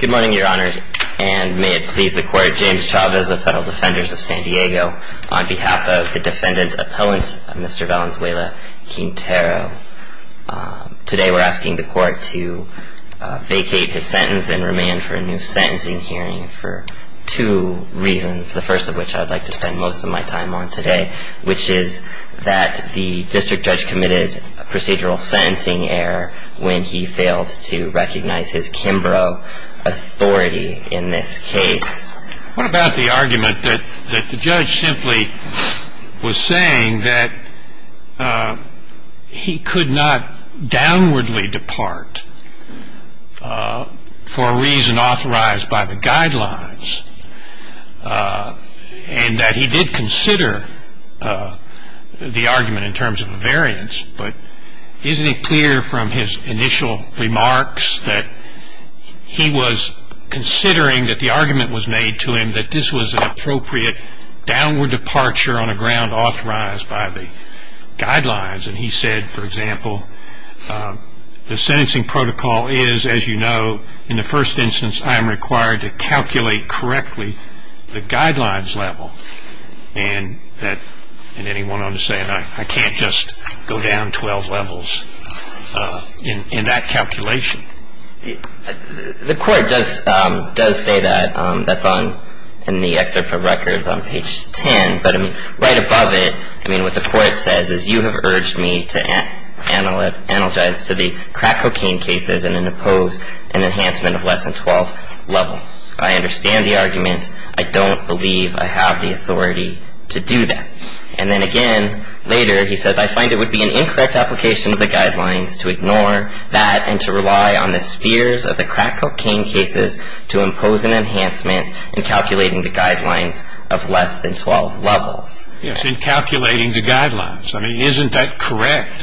Good morning, Your Honor, and may it please the Court, James Chavez of Federal Defenders of San Diego, on behalf of the Defendant Appellant, Mr. Valenzuela-Quintero. Today we're asking the Court to vacate his sentence and remand for a new sentencing hearing for two reasons, the first of which I'd like to spend most of my time on today, which is that the district judge committed a procedural sentencing error when he failed to recognize his Kimbrough authority in this case. What about the argument that the judge simply was saying that he could not downwardly depart for a reason authorized by the guidelines, and that he did consider the argument in terms of a variance, but isn't it clear from his initial remarks that he was considering that the argument was made to him that this was an appropriate downward departure on a ground authorized by the guidelines, and he said, for example, the sentencing protocol is, as you know, in the first instance I am required to calculate correctly the guidelines level, and then he went on to say I can't just go down 12 levels in that calculation. The Court does say that. That's in the excerpt from records on page 10, but right above it, I mean, what the Court says is you have urged me to analogize to the crack cocaine cases and impose an enhancement of less than 12 levels. I understand the argument. I don't believe I have the authority to do that. And then again later he says I find it would be an incorrect application of the guidelines to ignore that and to rely on the spheres of the crack cocaine cases to impose an enhancement in calculating the guidelines of less than 12 levels. Yes, in calculating the guidelines. I mean, isn't that correct?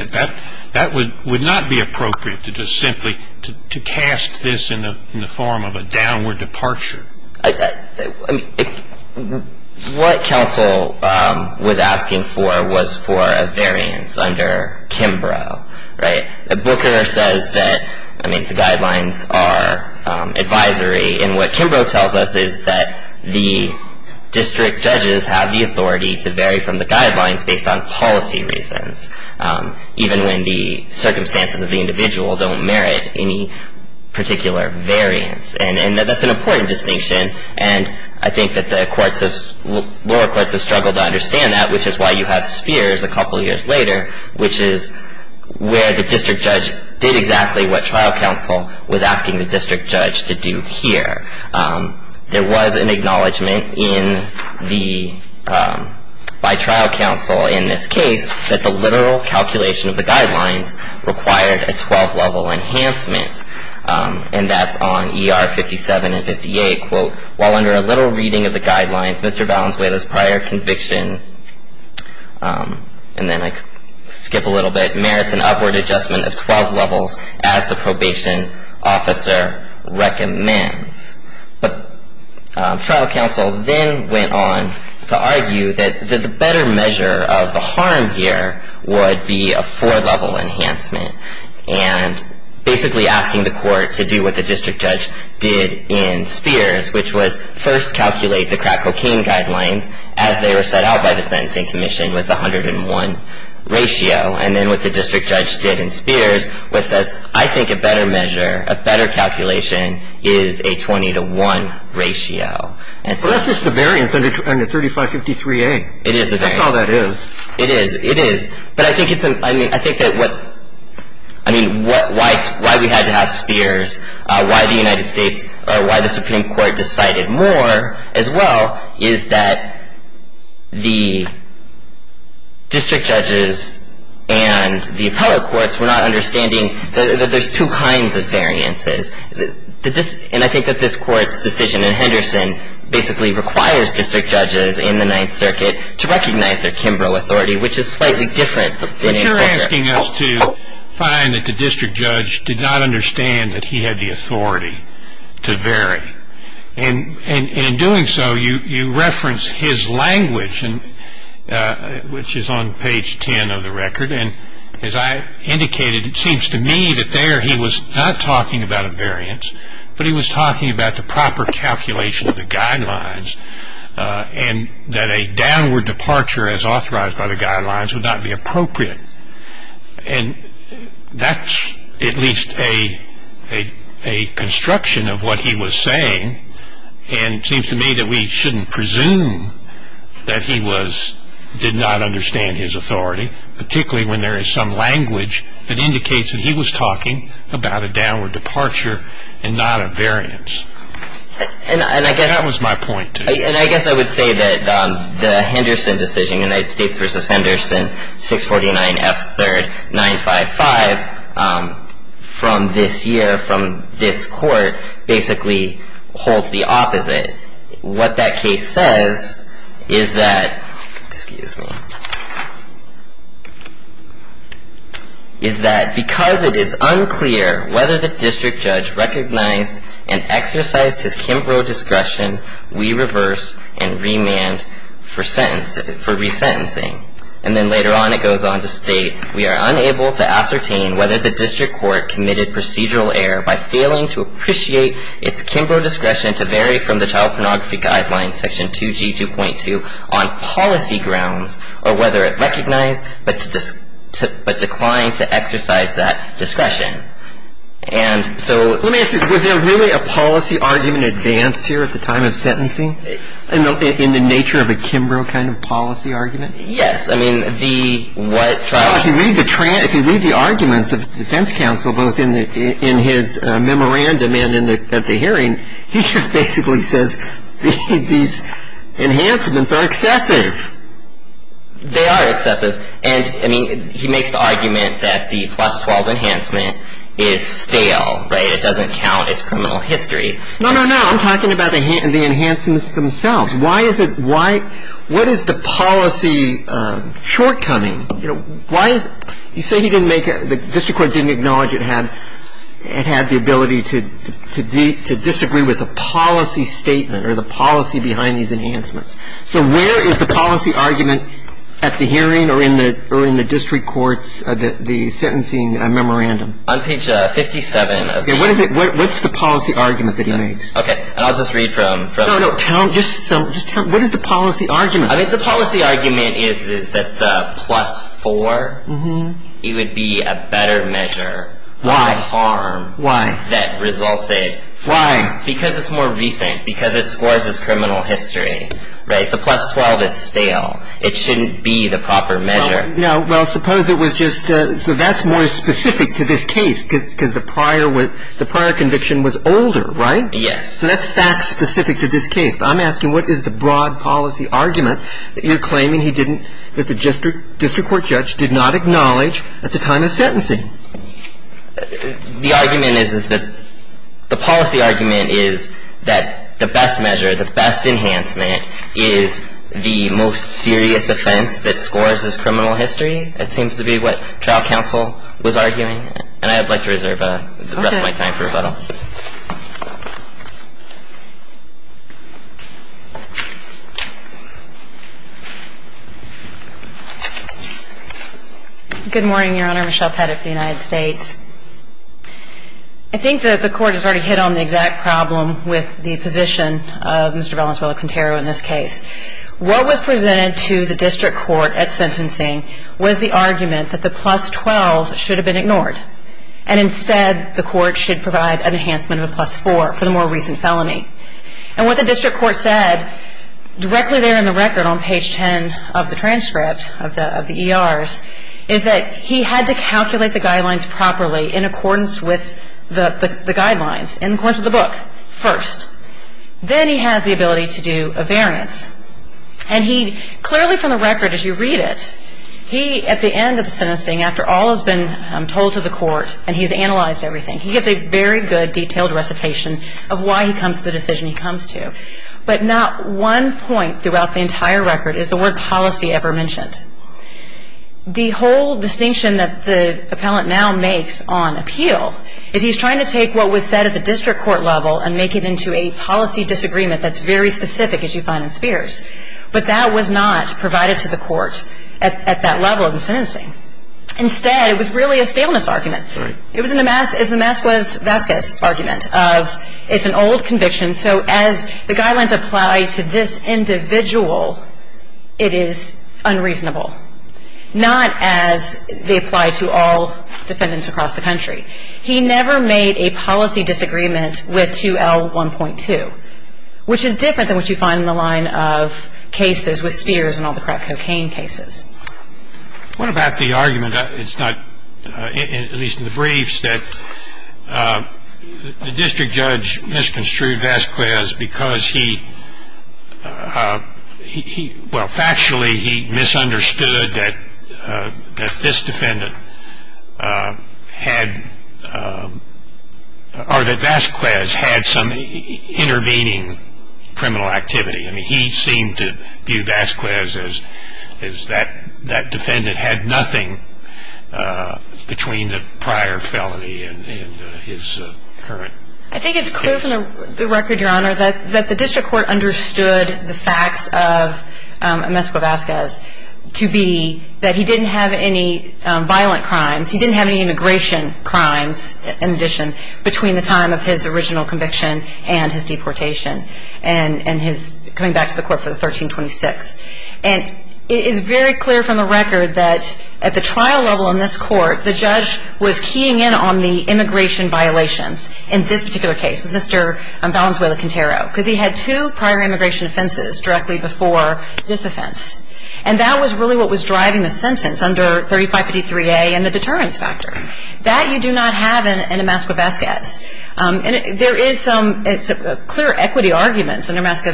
That would not be appropriate simply to cast this in the form of a downward departure. What counsel was asking for was for a variance under Kimbrough, right? Booker says that the guidelines are advisory, and what Kimbrough tells us is that the district judges have the authority to vary from the guidelines based on policy reasons, even when the circumstances of the individual don't merit any particular variance. And that's an important distinction, and I think that the lower courts have struggled to understand that, which is why you have spheres a couple years later, which is where the district judge did exactly what trial counsel was asking the district judge to do here. There was an acknowledgment by trial counsel in this case that the literal calculation of the guidelines required a 12-level enhancement, and that's on ER 57 and 58, quote, while under a little reading of the guidelines, Mr. Valenzuela's prior conviction, and then I skip a little bit, merits an upward adjustment of 12 levels as the probation officer recommends. But trial counsel then went on to argue that the better measure of the harm here would be a four-level enhancement, and basically asking the court to do what the district judge did in spheres, which was first calculate the crack cocaine guidelines as they were set out by the sentencing commission with the 101 ratio. And then what the district judge did in spheres was says, I think a better measure, a better calculation is a 20-to-1 ratio. And so that's just a variance under 3553A. It is a variance. That's all that is. It is. It is. But I think it's an ‑‑ I mean, I think that what ‑‑ I mean, why we had to have spheres, why the United States ‑‑ or why the Supreme Court decided more as well is that the district judges and the appellate courts were not understanding that there's two kinds of variances. And I think that this court's decision in Henderson basically requires district judges in the Ninth Circuit to recognize their Kimbrough authority, which is slightly different. But you're asking us to find that the district judge did not understand that he had the authority to vary. And in doing so, you reference his language, which is on page 10 of the record. And as I indicated, it seems to me that there he was not talking about a variance, but he was talking about the proper calculation of the guidelines and that a downward departure as authorized by the guidelines would not be appropriate. And that's at least a construction of what he was saying. And it seems to me that we shouldn't presume that he did not understand his authority, particularly when there is some language that indicates that he was talking about a downward departure and not a variance. That was my point to you. And I guess I would say that the Henderson decision, United States v. Henderson, 649 F. 3rd. 955, from this year, from this court, basically holds the opposite. What that case says is that, excuse me, is that because it is unclear whether the district judge recognized and exercised his Kimbrough discretion, we reverse and remand for resentencing. And then later on it goes on to state, we are unable to ascertain whether the district court committed procedural error by failing to appreciate its Kimbrough discretion to vary from the child pornography guidelines, section 2G 2.2, on policy grounds, or whether it recognized but declined to exercise that discretion. And so let me ask you, was there really a policy argument advanced here at the time of sentencing? In the nature of a Kimbrough kind of policy argument? Yes. I mean, the what trial? If you read the arguments of the defense counsel, both in his memorandum and at the hearing, he just basically says these enhancements are excessive. They are excessive. And, I mean, he makes the argument that the plus 12 enhancement is stale, right? It doesn't count as criminal history. No, no, no. I'm talking about the enhancements themselves. Why is it, why, what is the policy shortcoming? You know, why is, you say he didn't make, the district court didn't acknowledge it had, it had the ability to disagree with the policy statement or the policy behind these enhancements. So where is the policy argument at the hearing or in the district courts, the sentencing memorandum? On page 57. Okay, what is it, what's the policy argument that he makes? Okay, and I'll just read from. No, no, tell him, just tell him, what is the policy argument? I think the policy argument is that the plus 4, it would be a better measure. Why? For the harm. Why? That resulted. Why? Because it's more recent, because it scores as criminal history, right? The plus 12 is stale. It shouldn't be the proper measure. No, well, suppose it was just, so that's more specific to this case because the prior was, the prior conviction was older, right? Yes. So that's fact specific to this case. But I'm asking what is the broad policy argument that you're claiming he didn't, that the district court judge did not acknowledge at the time of sentencing? The argument is that, the policy argument is that the best measure, the best enhancement is the most serious offense that scores as criminal history. It seems to be what trial counsel was arguing. And I would like to reserve the rest of my time for rebuttal. Okay. Good morning, Your Honor. Michelle Pettit for the United States. I think that the Court has already hit on the exact problem with the position of Mr. Valenzuela-Quintero in this case. What was presented to the district court at sentencing was the argument that the plus 12 should have been ignored. And instead, the Court should provide an enhancement of a plus 4. And what the district court said, directly there in the record on page 10 of the transcript of the ERs, is that he had to calculate the guidelines properly in accordance with the guidelines, in accordance with the book, first. Then he has the ability to do a variance. And he, clearly from the record as you read it, he, at the end of the sentencing, after all has been told to the court and he's analyzed everything, he has a very good detailed recitation of why he comes to the decision he comes to. But not one point throughout the entire record is the word policy ever mentioned. The whole distinction that the appellant now makes on appeal is he's trying to take what was said at the district court level and make it into a policy disagreement that's very specific, as you find in Spears. But that was not provided to the court at that level of the sentencing. Instead, it was really a staleness argument. Right. It was a Damascus Vasquez argument of it's an old conviction, so as the guidelines apply to this individual, it is unreasonable. Not as they apply to all defendants across the country. He never made a policy disagreement with 2L1.2, which is different than what you find in the line of cases with Spears and all the crack cocaine cases. What about the argument, at least in the briefs, that the district judge misconstrued Vasquez because he, well factually he misunderstood that this defendant had, or that Vasquez had some intervening criminal activity. I mean he seemed to view Vasquez as that defendant had nothing between the prior felony and his current case. I think it's clear from the record, your honor, that the district court understood the facts of Meskwa Vasquez to be that he didn't have any violent crimes, he didn't have any immigration crimes in addition, between the time of his original conviction and his deportation. And his coming back to the court for the 1326. And it is very clear from the record that at the trial level in this court, the judge was keying in on the immigration violations in this particular case, Mr. Valenzuela-Quintero, because he had two prior immigration offenses directly before this offense. And that was really what was driving the sentence under 3553A and the deterrence factor. That you do not have in a Meskwa Vasquez. And there is some clear equity arguments under Meskwa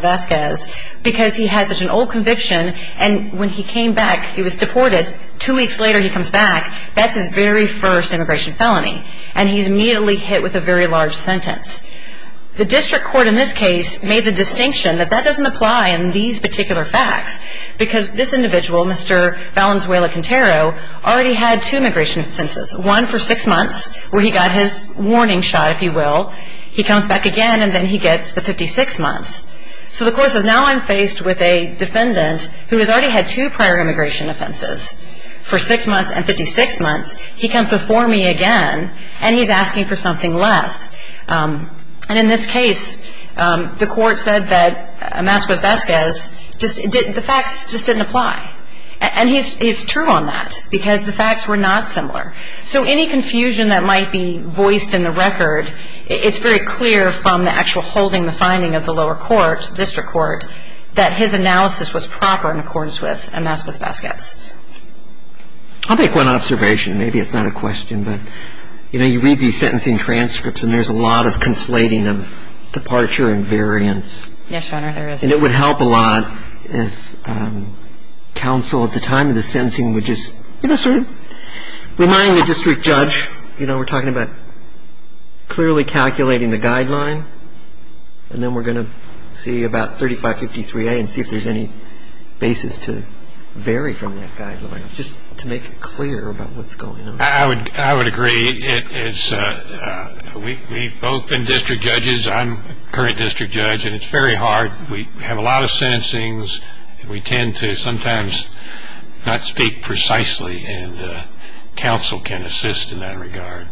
Vasquez because he has such an old conviction and when he came back, he was deported, two weeks later he comes back, that's his very first immigration felony. And he's immediately hit with a very large sentence. The district court in this case made the distinction that that doesn't apply in these particular facts, because this individual, Mr. Valenzuela-Quintero, already had two immigration offenses. One for six months, where he got his warning shot, if you will. He comes back again and then he gets the 56 months. So the court says now I'm faced with a defendant who has already had two prior immigration offenses for six months and 56 months, he comes before me again and he's asking for something less. And in this case, the court said that Meskwa Vasquez, the facts just didn't apply. And he's true on that, because the facts were not similar. So any confusion that might be voiced in the record, it's very clear from the actual holding, the finding of the lower court, district court, that his analysis was proper in accordance with Meskwa Vasquez. I'll make one observation, maybe it's not a question, but you read these sentencing transcripts and there's a lot of conflating of departure and variance. Yes, Your Honor, there is. And it would help a lot if counsel at the time of the sentencing would just sort of remind the district judge, you know, we're talking about clearly calculating the guideline, and then we're going to see about 3553A and see if there's any basis to vary from that guideline, just to make it clear about what's going on. I would agree. We've both been district judges. I'm a current district judge, and it's very hard. We have a lot of sentencings. We tend to sometimes not speak precisely, and counsel can assist in that regard.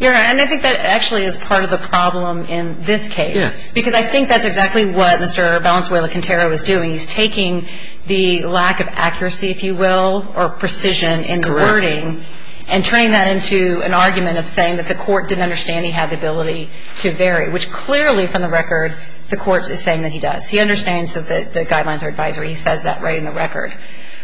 Your Honor, and I think that actually is part of the problem in this case. Yes. Because I think that's exactly what Mr. Valenzuela-Quintero is doing. He's taking the lack of accuracy, if you will, or precision in the wording, and turning that into an argument of saying that the court didn't understand he had the ability to vary, which clearly from the record the court is saying that he does. He understands that the guidelines are advisory. He says that right in the record.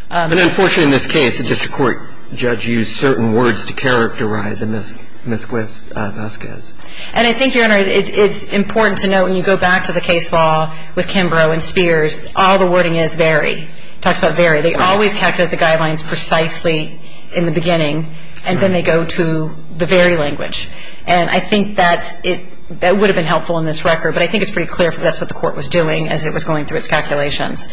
But unfortunately in this case, the district court judge used certain words to characterize Ms. Vasquez. And I think, Your Honor, it's important to note when you go back to the case law with Kimbrough and Spears, all the wording is vary. It talks about vary. They always calculate the guidelines precisely in the beginning, and then they go to the very language. And I think that would have been helpful in this record, but I think it's pretty clear that's what the court was doing as it was going through its calculations.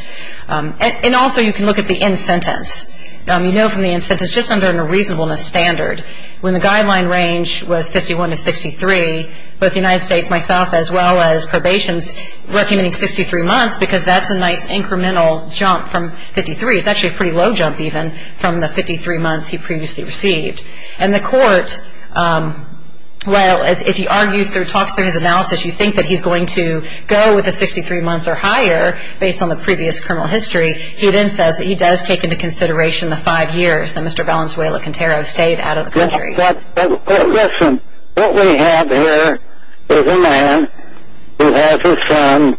And also you can look at the in-sentence. You know from the in-sentence, just under a reasonableness standard, when the guideline range was 51 to 63, both the United States, myself, as well as probation, is recommending 63 months because that's a nice incremental jump from 53. It's actually a pretty low jump even from the 53 months he previously received. And the court, well, as he argues through talks through his analysis, you think that he's going to go with the 63 months or higher based on the previous criminal history. He then says that he does take into consideration the five years that Mr. Valenzuela-Quintero stayed out of the country. But listen, what we have here is a man who has a son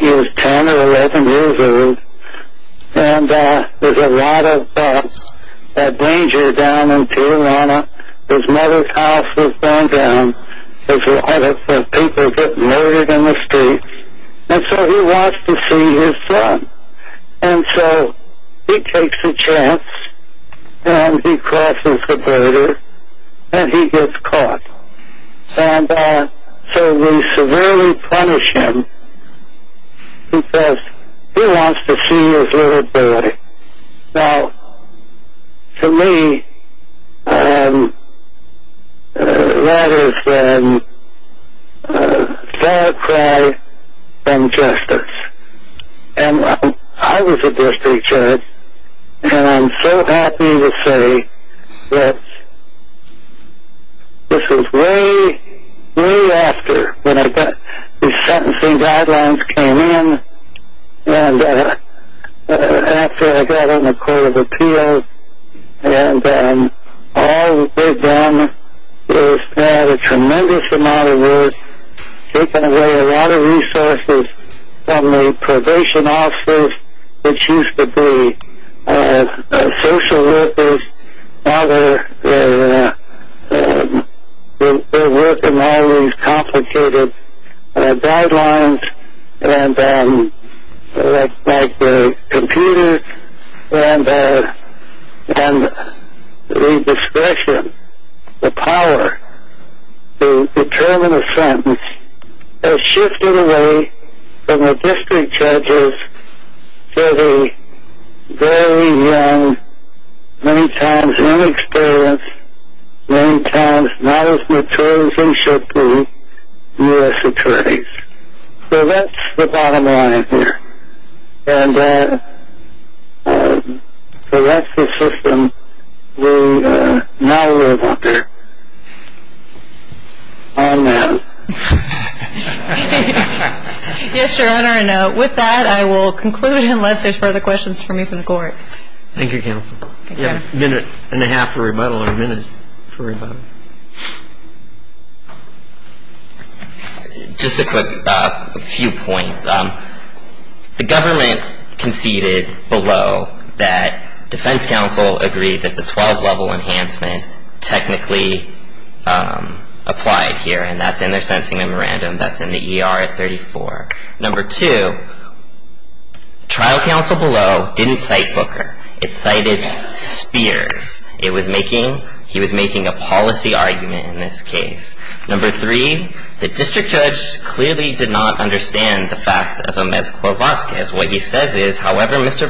who is 10 or 11 years old, and there's a lot of danger down in Tijuana. His mother's house was bombed down. There's a lot of people getting murdered in the streets. And so he wants to see his son. And so he takes a chance and he crosses the border and he gets caught. And so we severely punish him because he wants to see his little boy. Now, to me, that is a far cry from justice. And I was a district judge, and I'm so happy to say that this was way, way after when the sentencing guidelines came in and after I got on the Court of Appeals. And all they've done is add a tremendous amount of work, taken away a lot of resources from the probation officers, which used to be social workers. Now they're working all these complicated guidelines like the computers and the discretion, the power to determine a sentence is shifting away from the district judges to the very young, many times inexperienced, many times not as mature as they should be U.S. attorneys. So that's the bottom line here. And so that's the system we now live under. Amen. Yes, Your Honor. And with that, I will conclude unless there's further questions for me from the Court. Thank you, Counsel. You have a minute and a half for rebuttal or a minute for rebuttal. Just a few points. The government conceded below that defense counsel agreed that the 12-level enhancement technically applied here, and that's in their sentencing memorandum. That's in the ER at 34. Number two, trial counsel below didn't cite Booker. It cited Spears. He was making a policy argument in this case. Number three, the district judge clearly did not understand the facts of Amezcua-Vazquez. What he says is, however, Mr.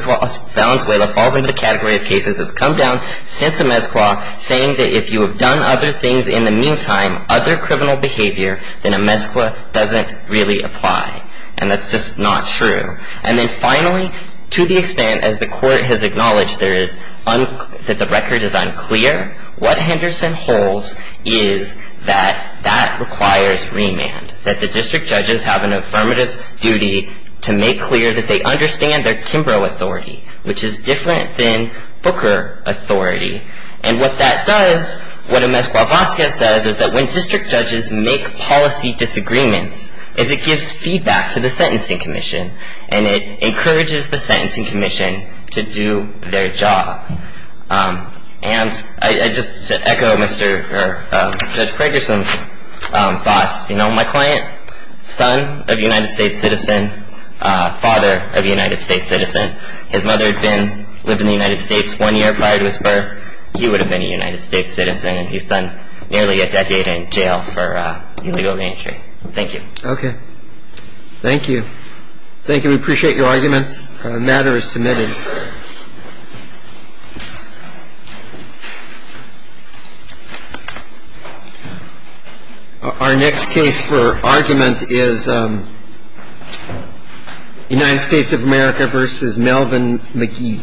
Valenzuela falls into the category of cases that's come down since Amezcua, saying that if you have done other things in the meantime, other criminal behavior, then Amezcua doesn't really apply. And that's just not true. And then finally, to the extent, as the Court has acknowledged, that the record is unclear, what Henderson holds is that that requires remand, that the district judges have an affirmative duty to make clear that they understand their Kimbrough authority, which is different than Booker authority. And what that does, what Amezcua-Vazquez does, is that when district judges make policy disagreements, is it gives feedback to the Sentencing Commission, and it encourages the Sentencing Commission to do their job. And I just echo Mr. or Judge Pragerson's thoughts. You know, my client, son of a United States citizen, father of a United States citizen, his mother had been, lived in the United States one year prior to his birth. He would have been a United States citizen, and he's done nearly a decade in jail for illegal entry. Thank you. Okay. Thank you. Thank you. We appreciate your arguments. The matter is submitted. Our next case for argument is United States of America v. Melvin McGee.